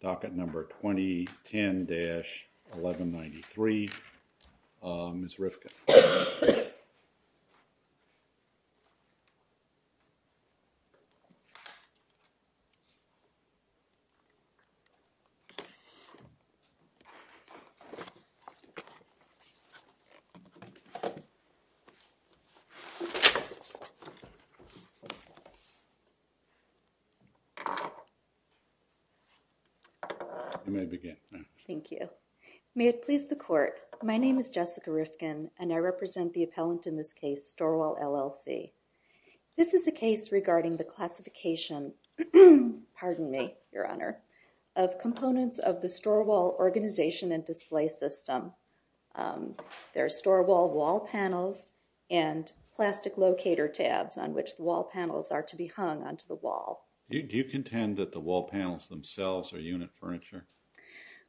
Docket Number 2010-1193, Ms. Rifkin. May it please the Court, my name is Jessica Rifkin, and I represent the appellant in this case, STOREWALL LLC. This is a case regarding the classification, pardon me, Your Honor, of components of the STOREWALL organization and display system. There are STOREWALL wall panels and plastic locator tabs on which the wall panels are to be hung onto the wall. Do you contend that the wall panels themselves are unit furniture?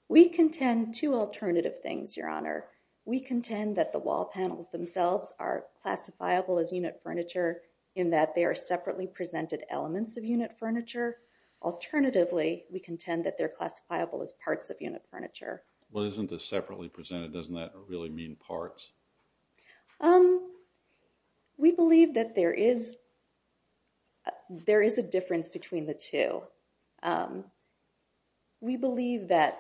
We contend two alternative things, Your Honor. We contend that the wall panels themselves are classifiable as unit furniture in that they are separately presented elements of unit furniture. Alternatively, we contend that they're classifiable as parts of unit furniture. Well, isn't this separately presented? Doesn't that really mean parts? We believe that there is a difference between the two. So, we believe that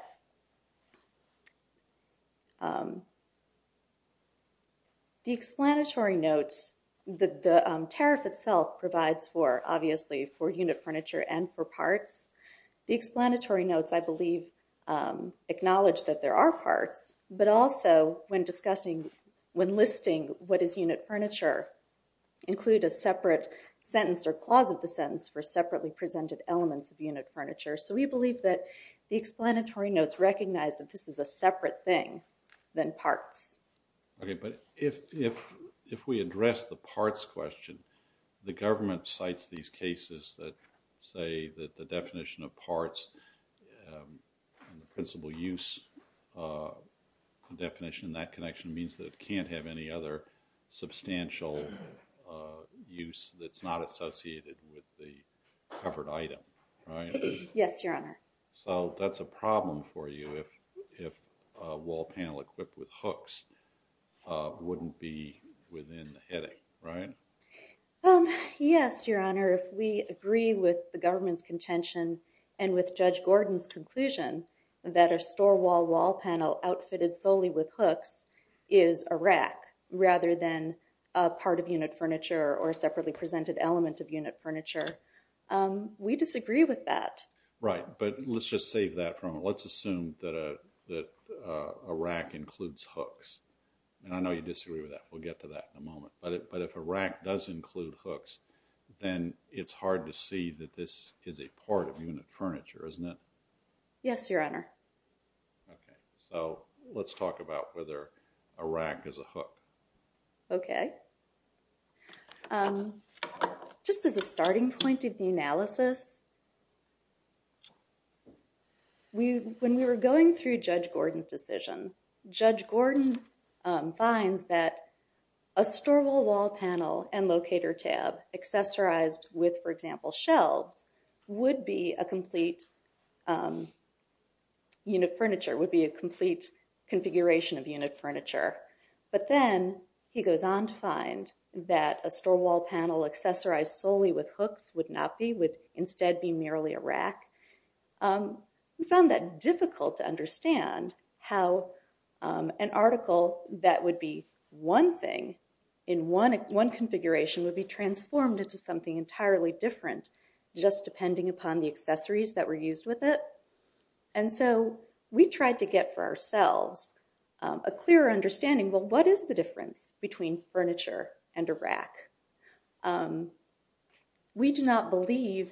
the explanatory notes, the tariff itself provides for, obviously, for unit furniture and for parts. The explanatory notes, I believe, acknowledge that there are parts, but also when discussing, when listing what is unit furniture, include a separate sentence or clause of the sentence for separately presented elements of unit furniture. So, we believe that the explanatory notes recognize that this is a separate thing than parts. Okay, but if we address the parts question, the government cites these cases that say that the definition of parts and the principle use definition, that connection means that you can't have any other substantial use that's not associated with the covered item, right? Yes, Your Honor. So, that's a problem for you if a wall panel equipped with hooks wouldn't be within the heading, right? Yes, Your Honor. If we agree with the government's contention and with Judge Gordon's conclusion that a rack rather than a part of unit furniture or a separately presented element of unit furniture, we disagree with that. Right, but let's just save that for a moment. Let's assume that a rack includes hooks, and I know you disagree with that. We'll get to that in a moment, but if a rack does include hooks, then it's hard to see that this is a part of unit furniture, isn't it? Yes, Your Honor. Okay, so let's talk about whether a rack is a hook. Okay. Just as a starting point of the analysis, when we were going through Judge Gordon's decision, Judge Gordon finds that a store wall wall panel and locator tab accessorized with, for example, shelves would be a complete unit furniture, would be a complete configuration of unit furniture. But then, he goes on to find that a store wall panel accessorized solely with hooks would not be, would instead be merely a rack. We found that difficult to understand how an article that would be one thing in one configuration would be transformed into something entirely different just depending upon the accessories that were used with it. And so, we tried to get for ourselves a clearer understanding, well, what is the difference between furniture and a rack? We do not believe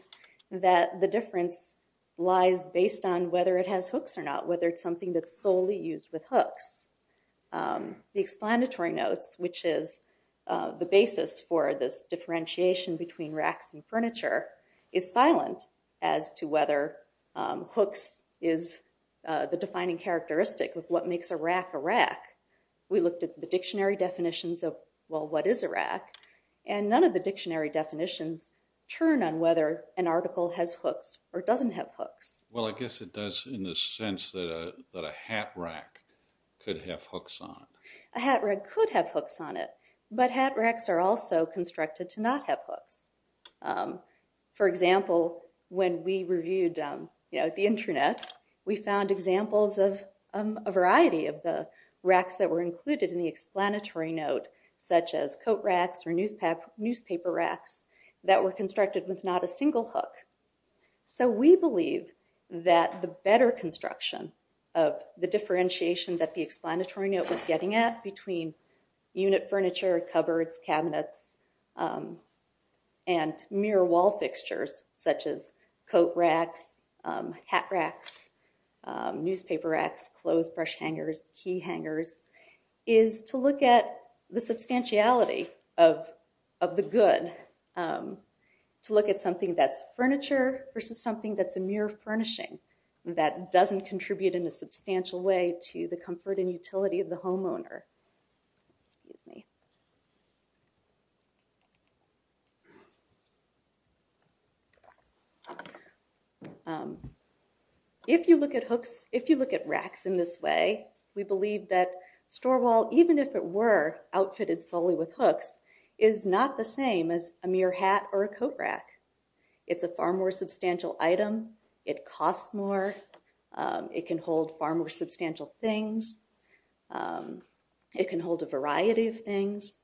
that the difference lies based on whether it has hooks or not, whether it's something that's solely used with hooks. The explanatory notes, which is the basis for this differentiation between racks and furniture, is silent as to whether hooks is the defining characteristic of what makes a rack a rack. We looked at the dictionary definitions of, well, what is a rack? And none of the dictionary definitions turn on whether an article has hooks or doesn't have hooks. Well, I guess it does in the sense that a hat rack could have hooks on it. A hat rack could have hooks on it, but hat racks are also constructed to not have hooks. For example, when we reviewed the internet, we found examples of a variety of the racks that were included in the explanatory note, such as coat racks or newspaper racks that were constructed with not a single hook. So we believe that the better construction of the differentiation that the explanatory note was getting at between unit furniture, cupboards, cabinets, and mirror wall fixtures, such as coat racks, hat racks, newspaper racks, clothesbrush hangers, key hangers, is to look at the substantiality of the good. To look at something that's furniture versus something that's a mirror furnishing that doesn't contribute in a substantial way to the comfort and utility of the homeowner. Excuse me. If you look at racks in this way, we believe that store wall, even if it were outfitted solely with hooks, is not the same as a mere hat or a coat rack. It's a far more substantial item. It costs more. It can hold far more substantial things. It can hold a variety of things.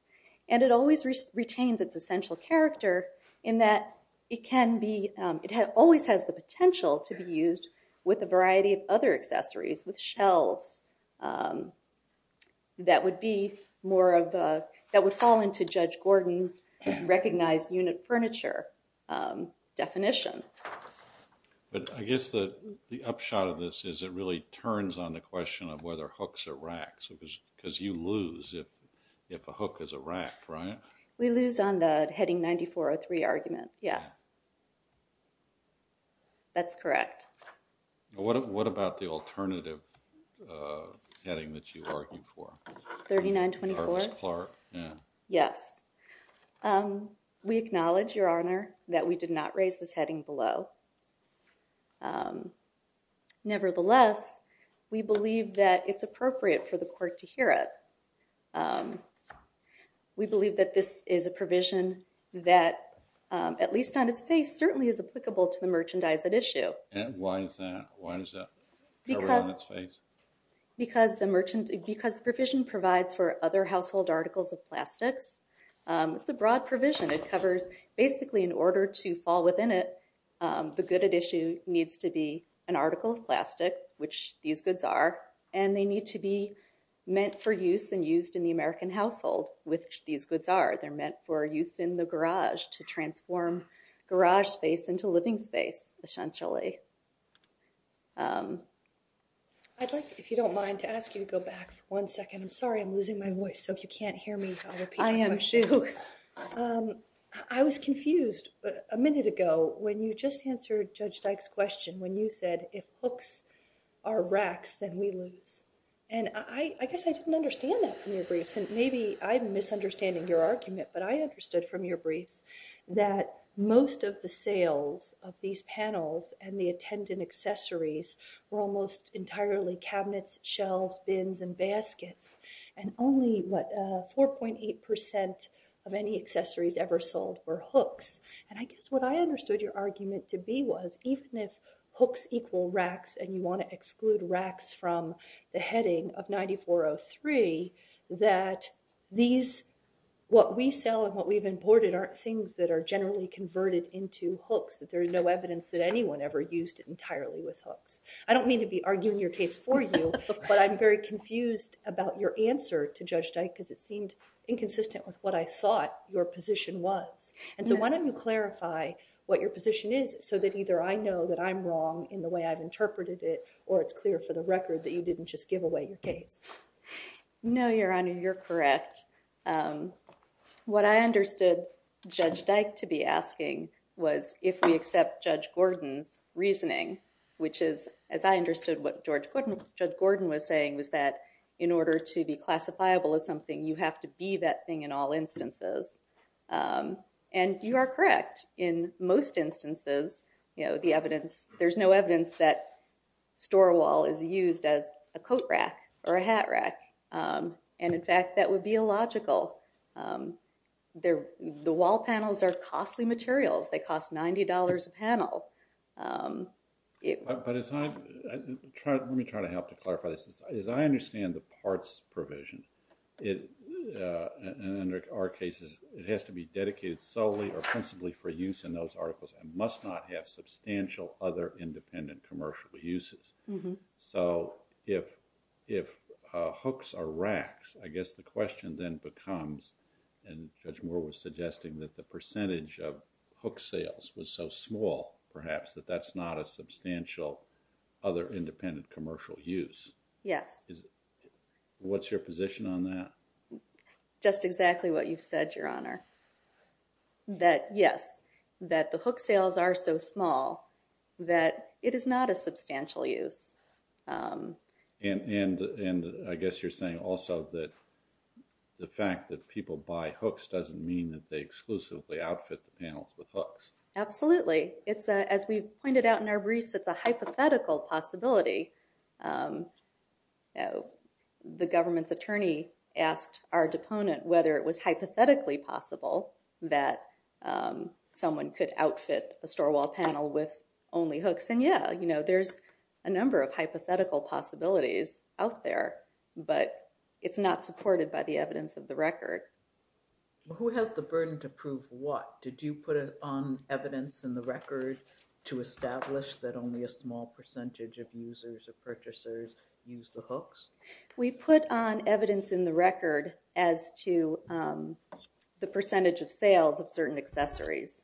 And it always retains its essential character in that it can be, it always has the potential to be used with a variety of other accessories, with shelves, that would be more of the, that would fall into Judge Gordon's recognized unit furniture definition. But I guess the upshot of this is it really turns on the question of whether hooks or racks, because you lose if a hook is a rack, right? We lose on the heading 9403 argument, yes. That's correct. What about the alternative heading that you argued for? 3924? Yeah. Yes. We acknowledge, Your Honor, that we did not raise this heading below. Nevertheless, we believe that it's appropriate for the court to hear it. We believe that this is a provision that, at least on its face, certainly is applicable to the merchandise at issue. And why is that? Why does that cover it on its face? Because the provision provides for other household articles of plastics. It's a broad provision. It covers, basically, in order to fall within it, the good at issue needs to be an article of plastic, which these goods are. And they need to be meant for use and used in the American household, which these goods are. They're meant for use in the garage to transform garage space into living space, essentially. I'd like, if you don't mind, to ask you to go back for one second. I'm sorry. I'm losing my voice. So if you can't hear me, I'll repeat my question. I am too. I was confused. A minute ago, when you just answered Judge Dyke's question, when you said, if hooks are racks, then we lose. And I guess I didn't understand that from your briefs. And maybe I'm misunderstanding your argument. But I understood from your briefs that most of the sales of these panels and the attendant accessories were almost entirely cabinets, shelves, bins, and baskets. And only, what, 4.8% of any accessories ever sold were hooks. And I guess what I understood your argument to be was, even if hooks equal racks and you want to exclude racks from the heading of 9403, that these, what we sell and what we've imported aren't things that are generally converted into hooks, that there is no evidence that anyone ever used it entirely with hooks. I don't mean to be arguing your case for you. But I'm very confused about your answer to Judge Dyke, because it seemed inconsistent with what I thought your position was. And so why don't you clarify what your position is, so that either I know that I'm wrong in the way I've interpreted it, or it's clear for the record that you didn't just give away your case. No, Your Honor, you're correct. What I understood Judge Dyke to be asking was, if we accept Judge Gordon's reasoning, which is, as I understood what Judge Gordon was saying, was that in order to be classifiable as something, you have to be that thing in all instances. And you are correct. In most instances, there's no evidence that store wall is used as a coat rack or a hat rack. And in fact, that would be illogical. The wall panels are costly materials. They cost $90 a panel. But let me try to help to clarify this. As I understand the parts provision, in our cases, it has to be dedicated solely or principally for use in those articles, and must not have substantial other independent commercial uses. So if hooks are racks, I guess the question then becomes, and Judge Moore was suggesting that the percentage of hook sales was so small, perhaps, that that's not a substantial other independent commercial use. Yes. What's your position on that? Just exactly what you've said, Your Honor, that yes, that the hook sales are so small that it is not a substantial use. And I guess you're saying also that the fact that people buy hooks doesn't mean that they exclusively outfit the panels with hooks. Absolutely. As we pointed out in our briefs, it's a hypothetical possibility. The government's attorney asked our deponent whether it was hypothetically possible that someone could outfit a store wall panel with only hooks. And yeah, there's a number of hypothetical possibilities out there. But it's not supported by the evidence of the record. Who has the burden to prove what? Did you put on evidence in the record to establish that only a small percentage of users or purchasers use the hooks? We put on evidence in the record as to the percentage of sales of certain accessories.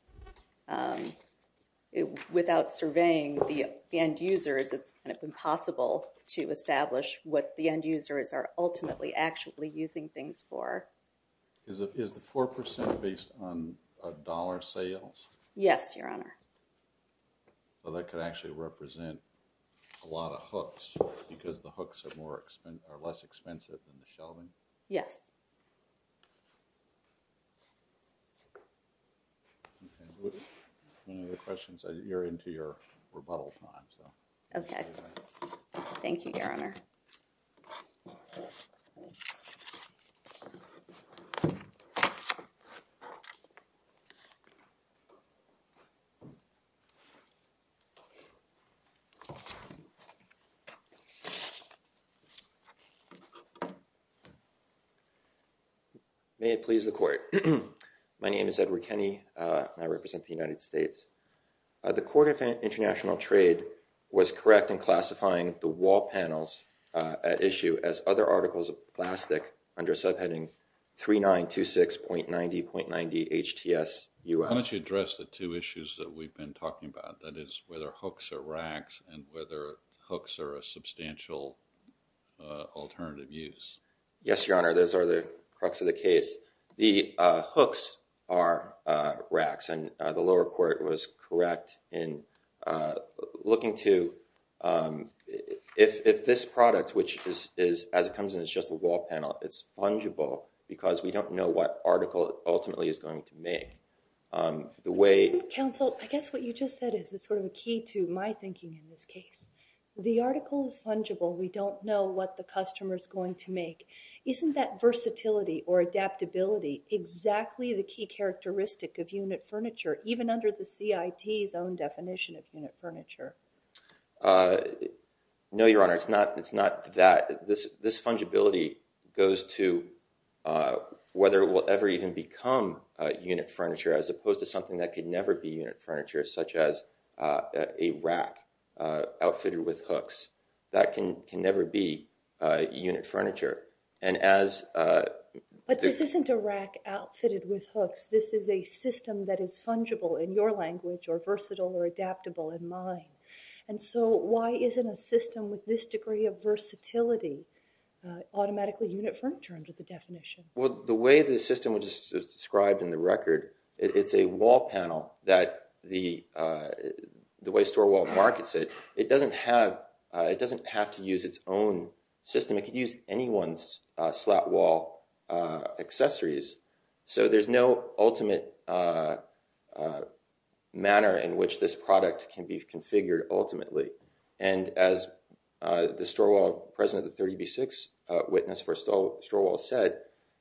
Without surveying the end users, it's kind of impossible to establish what the end users are ultimately actually using things for. Is the 4% based on dollar sales? Yes, Your Honor. Well, that could actually represent a lot of hooks because the hooks are less expensive than the shelving? Yes. Any other questions? You're into your rebuttal time, so. Okay. Thank you, Your Honor. Thank you. May it please the Court. My name is Edward Kenney, and I represent the United States. The Court of International Trade was correct in classifying the wall panels at issue as other articles of plastic under subheading 3926.90.90 HTS U.S. Why don't you address the two issues that we've been talking about, that is whether hooks are racks and whether hooks are a substantial alternative use? Yes, Your Honor. Those are the crux of the case. The hooks are racks, and the lower court was correct in looking to if this product, which is, as it comes in, it's just a wall panel. It's fungible because we don't know what article it ultimately is going to make. The way— Counsel, I guess what you just said is sort of key to my thinking in this case. The article is fungible. We don't know what the customer is going to make. Isn't that versatility or adaptability exactly the key characteristic of unit furniture, even under the CIT's own definition of unit furniture? No, Your Honor. It's not that. This fungibility goes to whether it will ever even become unit furniture, as opposed to something that could never be unit furniture, such as a rack outfitted with hooks. That can never be unit furniture. But this isn't a rack outfitted with hooks. This is a system that is fungible in your language or versatile or adaptable in mine. And so why isn't a system with this degree of versatility automatically unit furniture under the definition? Well, the way the system, which is described in the record, it's a wall panel that the way StoreWall markets it, it doesn't have to use its own system. It could use anyone's slat wall accessories. So there's no ultimate manner in which this product can be configured ultimately. And as the StoreWall president, the 30B6 witness for StoreWall said,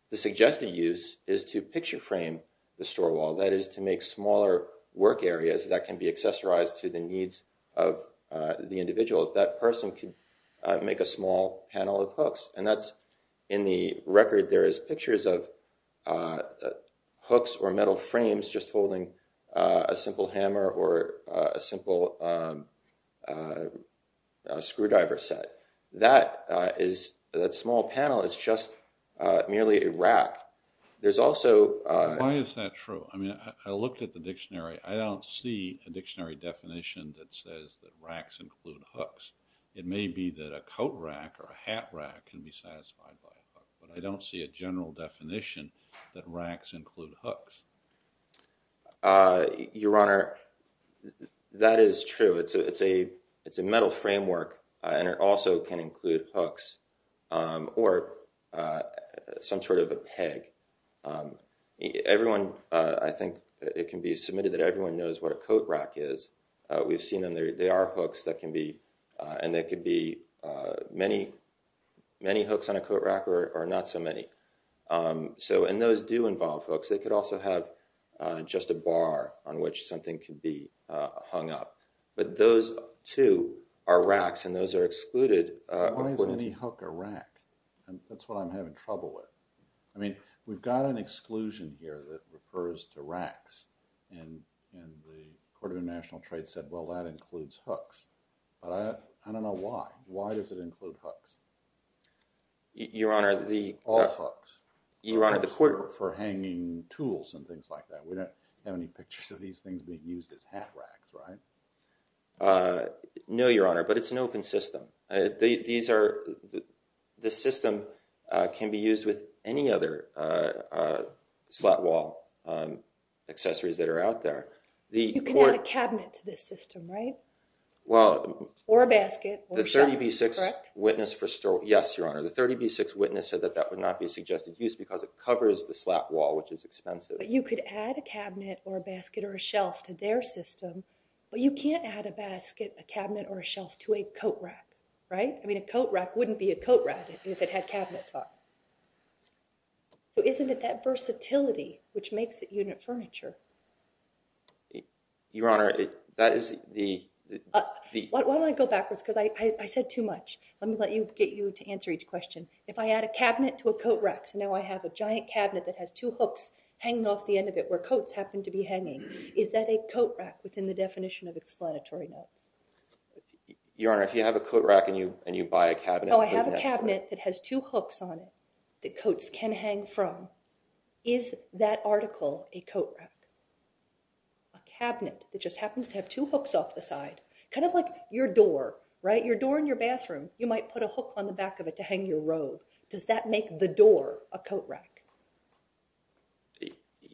the suggested use is to picture frame the StoreWall. That is to make smaller work areas that can be accessorized to the needs of the individual. And that's in the record. There is pictures of hooks or metal frames just holding a simple hammer or a simple screwdriver set. That small panel is just merely a rack. Why is that true? I mean, I looked at the dictionary. I don't see a dictionary definition that says that racks include hooks. It may be that a coat rack or a hat rack can be satisfied by a hook. But I don't see a general definition that racks include hooks. Your Honor, that is true. It's a metal framework and it also can include hooks or some sort of a peg. Everyone, I think it can be submitted that everyone knows what a coat rack is. We've seen them. There are hooks that can be, and there could be many hooks on a coat rack or not so many. And those do involve hooks. They could also have just a bar on which something could be hung up. But those, too, are racks and those are excluded. Why is any hook a rack? That's what I'm having trouble with. I mean, we've got an exclusion here that refers to racks. And the Court of International Trade said, well, that includes hooks. But I don't know why. Why does it include hooks? All hooks. For hanging tools and things like that. We don't have any pictures of these things being used as hat racks, right? No, Your Honor, but it's an open system. This system can be used with any other slat wall accessories that are out there. You can add a cabinet to this system, right? Or a basket or a shelf, correct? Yes, Your Honor. The 30B6 witness said that that would not be suggested use because it covers the slat wall, which is expensive. You could add a cabinet or a basket or a shelf to their system, but you can't add a basket, a cabinet, or a shelf to a coat rack, right? I mean, a coat rack wouldn't be a coat rack if it had cabinets on it. So isn't it that versatility which makes it unit furniture? Your Honor, that is the— Why don't I go backwards? Because I said too much. Let me get you to answer each question. If I add a cabinet to a coat rack, so now I have a giant cabinet that has two hooks hanging off the end of it where coats happen to be hanging, is that a coat rack within the definition of explanatory notes? Your Honor, if you have a coat rack and you buy a cabinet— Oh, I have a cabinet that has two hooks on it that coats can hang from. Is that article a coat rack? A cabinet that just happens to have two hooks off the side, kind of like your door, right? You might put a hook on the back of it to hang your robe. Does that make the door a coat rack?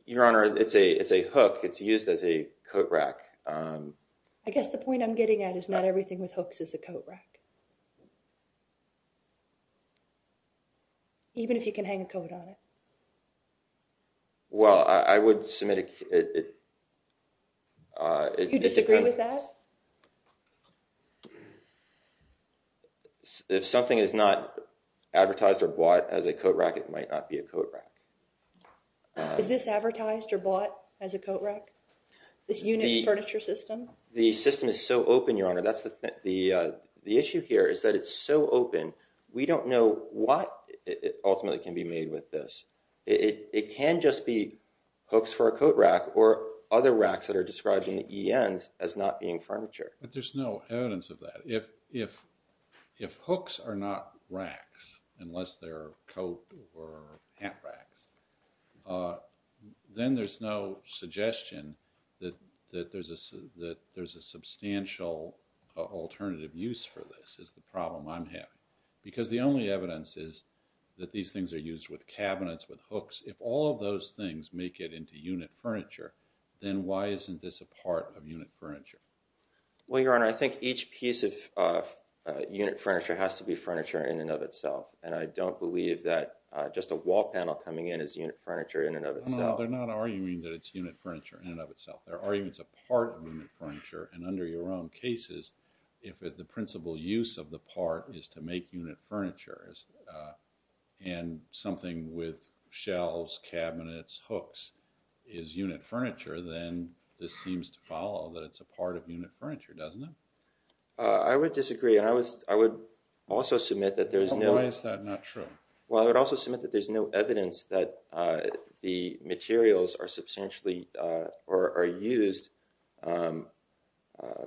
Your Honor, it's a hook. It's used as a coat rack. I guess the point I'm getting at is not everything with hooks is a coat rack, even if you can hang a coat on it. Well, I would submit it— if something is not advertised or bought as a coat rack, it might not be a coat rack. Is this advertised or bought as a coat rack, this unit furniture system? The system is so open, Your Honor. The issue here is that it's so open, we don't know what ultimately can be made with this. It can just be hooks for a coat rack or other racks that are described in the ENs as not being furniture. But there's no evidence of that. If hooks are not racks, unless they're coat or hat racks, then there's no suggestion that there's a substantial alternative use for this, is the problem I'm having. Because the only evidence is that these things are used with cabinets, with hooks. If all of those things make it into unit furniture, then why isn't this a part of unit furniture? Well, Your Honor, I think each piece of unit furniture has to be furniture in and of itself. And I don't believe that just a wall panel coming in is unit furniture in and of itself. No, no, they're not arguing that it's unit furniture in and of itself. They're arguing it's a part of unit furniture. And under your own cases, if the principal use of the part is to make unit furniture, and something with shelves, cabinets, hooks is unit furniture, then this seems to follow that it's a part of unit furniture, doesn't it? I would disagree, and I would also submit that there's no evidence that the materials are used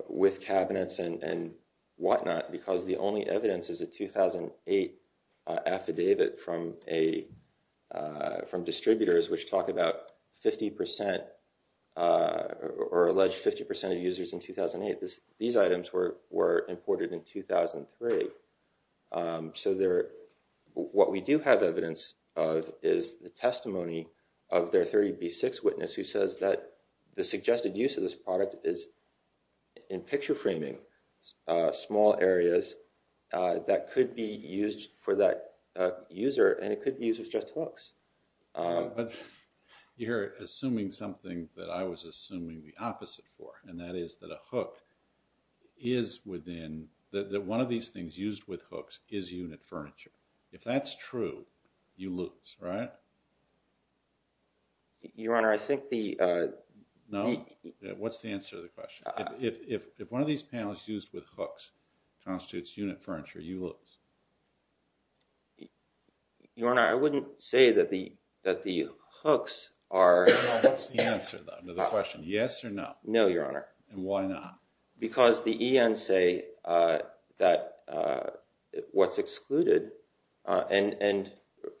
with cabinets and whatnot, because the only evidence is a 2008 affidavit from distributors, which talk about 50% or alleged 50% of users in 2008. These items were imported in 2003. So what we do have evidence of is the testimony of their 30B6 witness, who says that the suggested use of this product is in picture framing small areas that could be used for that user, and it could be used as just hooks. But you're assuming something that I was assuming the opposite for, and that is that a hook is within – that one of these things used with hooks is unit furniture. If that's true, you lose, right? Your Honor, I think the – No. What's the answer to the question? If one of these panels used with hooks constitutes unit furniture, you lose. Your Honor, I wouldn't say that the hooks are – No, what's the answer to the question? Yes or no? No, Your Honor. And why not? Because the ENs say that what's excluded – and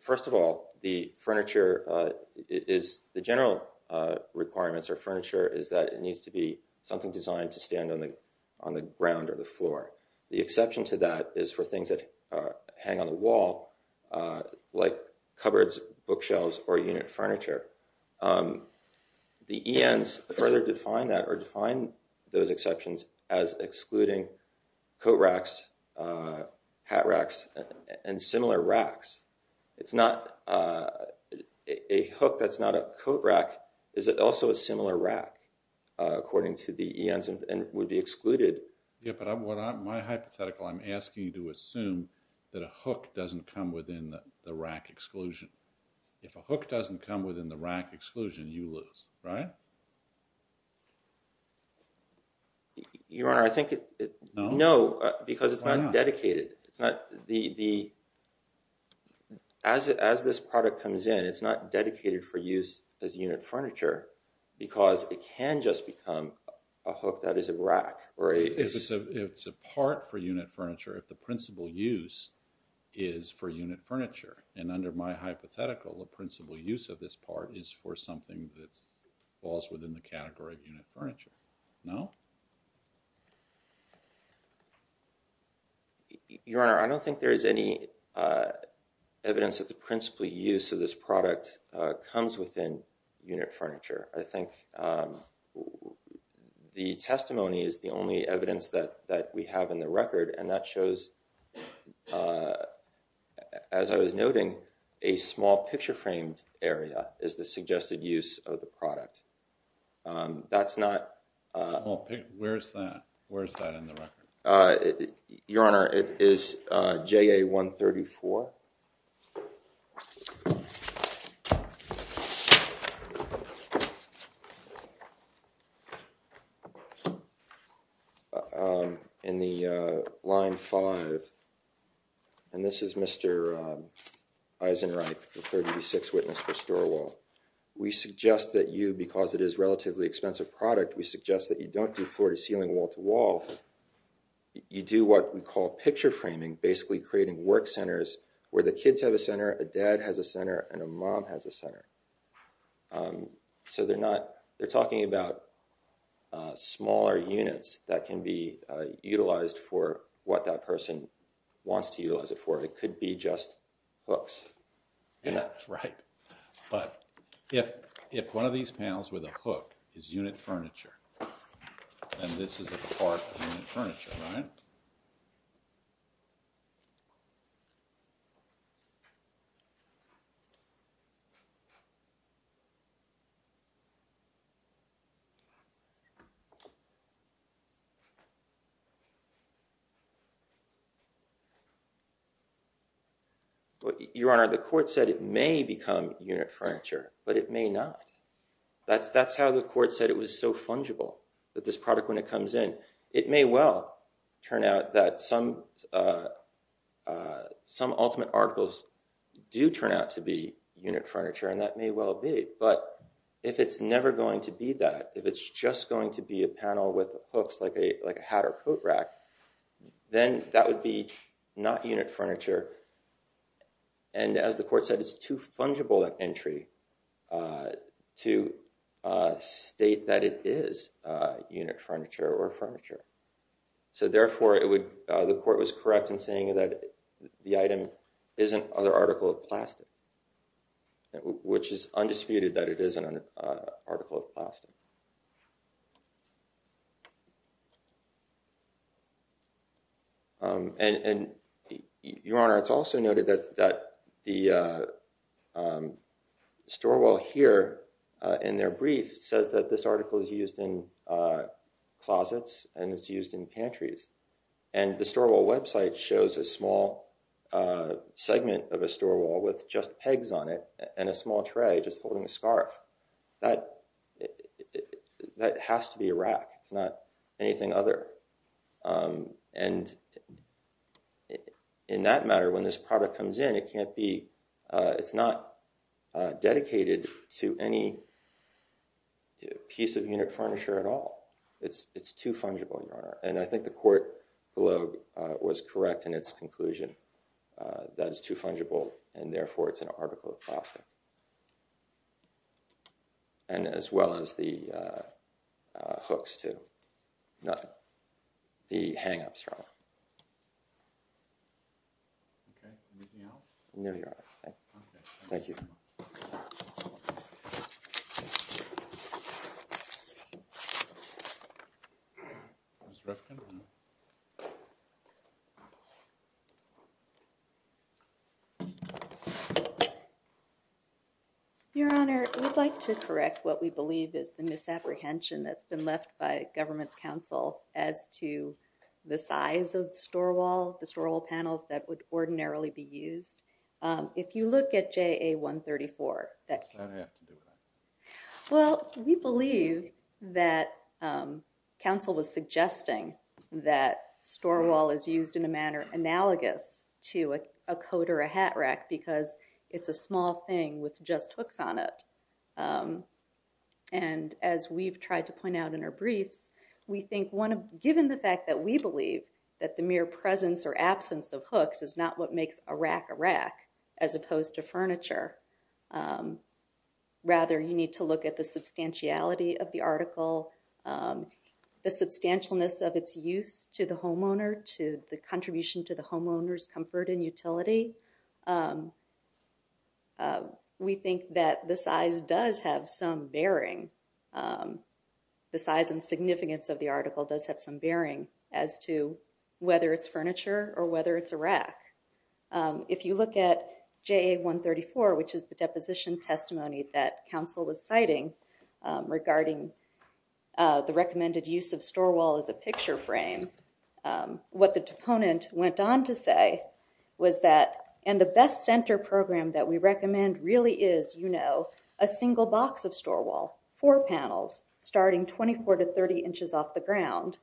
first of all, the furniture is – the general requirements for furniture is that it needs to be something designed to stand on the ground or the floor. The exception to that is for things that hang on the wall, like cupboards, bookshelves, or unit furniture. The ENs further define that or define those exceptions as excluding coat racks, hat racks, and similar racks. It's not – a hook that's not a coat rack is also a similar rack, according to the ENs, and would be excluded. Yeah, but my hypothetical, I'm asking you to assume that a hook doesn't come within the rack exclusion. If a hook doesn't come within the rack exclusion, you lose, right? Your Honor, I think – No. No, because it's not dedicated. Why not? As this product comes in, it's not dedicated for use as unit furniture because it can just become a hook that is a rack or a – It's a part for unit furniture if the principal use is for unit furniture. And under my hypothetical, the principal use of this part is for something that falls within the category of unit furniture. No? Your Honor, I don't think there is any evidence that the principal use of this product comes within unit furniture. I think the testimony is the only evidence that we have in the record. And that shows, as I was noting, a small picture-framed area is the suggested use of the product. That's not – Well, where is that? Where is that in the record? Your Honor, it is JA-134. In the line 5, and this is Mr. Eisenreich, the 36 witness for store wall. We suggest that you, because it is a relatively expensive product, we suggest that you don't do floor-to-ceiling, wall-to-wall. You do what we call picture-framing, basically creating work centers where the kids have a center, a dad has a center, and a mom has a center. So they're not – they're talking about smaller units that can be utilized for what that person wants to utilize it for. It could be just hooks. Right. But if one of these panels with a hook is unit furniture, and this is a part of unit furniture, right? Your Honor, the court said it may become unit furniture, but it may not. That's how the court said it was so fungible, that this product, when it comes in, it may well turn out that some ultimate articles do turn out to be unit furniture, and that may well be, but if it's never going to be that, if it's just going to be a panel with hooks like a hat or coat rack, then that would be not unit furniture, and as the court said, it's too fungible an entry to state that it is unit furniture or furniture. So therefore, the court was correct in saying that the item is an other article of plastic, which is undisputed that it is an article of plastic. Your Honor, it's also noted that the store wall here in their brief says that this article is used in closets, and it's used in pantries, and the store wall website shows a small segment of a store wall with just pegs on it and a small tray just holding a scarf. That has to be a rack. It's not anything other, and in that matter, when this product comes in, it's not dedicated to any piece of unit furniture at all. It's too fungible, Your Honor, and I think the court below was correct in its conclusion. That is too fungible, and therefore, it's an article of plastic, and as well as the hooks, too. Nothing. The hang-ups are wrong. Okay. Anything else? No, Your Honor. Okay. Thank you. Mr. Rifkin? Your Honor, we'd like to correct what we believe is the misapprehension that's been left by government's counsel as to the size of the store wall, the store wall panels that would ordinarily be used. If you look at JA-134. What does that have to do with anything? Well, we believe that counsel was suggesting that store wall is used in a manner analogous to a coat or a hat rack because it's a small thing with just hooks on it. And as we've tried to point out in our briefs, we think given the fact that we believe that the mere presence or absence of hooks is not what makes a rack a rack as opposed to furniture. Rather, you need to look at the substantiality of the article, the substantialness of its use to the homeowner, to the contribution to the homeowner's comfort and utility. We think that the size does have some bearing. The size and significance of the article does have some bearing as to whether it's furniture or whether it's a rack. If you look at JA-134, which is the deposition testimony that counsel was citing regarding the recommended use of store wall as a picture frame. What the proponent went on to say was that, and the best center program that we recommend really is, you know, a single box of store wall, four panels starting 24 to 30 inches off the ground.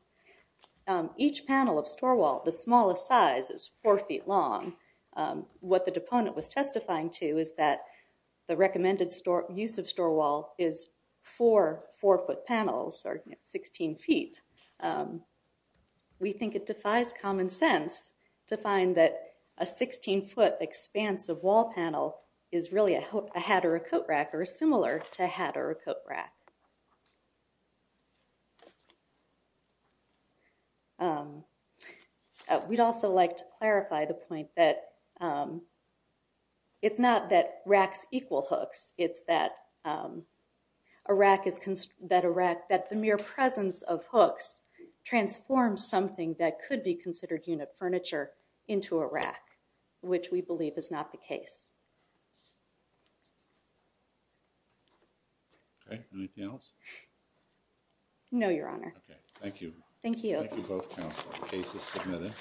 Each panel of store wall, the smallest size is four feet long. What the deponent was testifying to is that the recommended use of store wall is four four-foot panels starting at 16 feet. We think it defies common sense to find that a 16-foot expansive wall panel is really a hat or a coat rack or similar to a hat or a coat rack. We'd also like to clarify the point that it's not that racks equal hooks. It's that a rack is, that a rack, that the mere presence of hooks transforms something that could be considered unit furniture into a rack, which we believe is not the case. Okay, anything else? No, your honor. Okay, thank you. Thank you. Thank you both counsel. The case is submitted.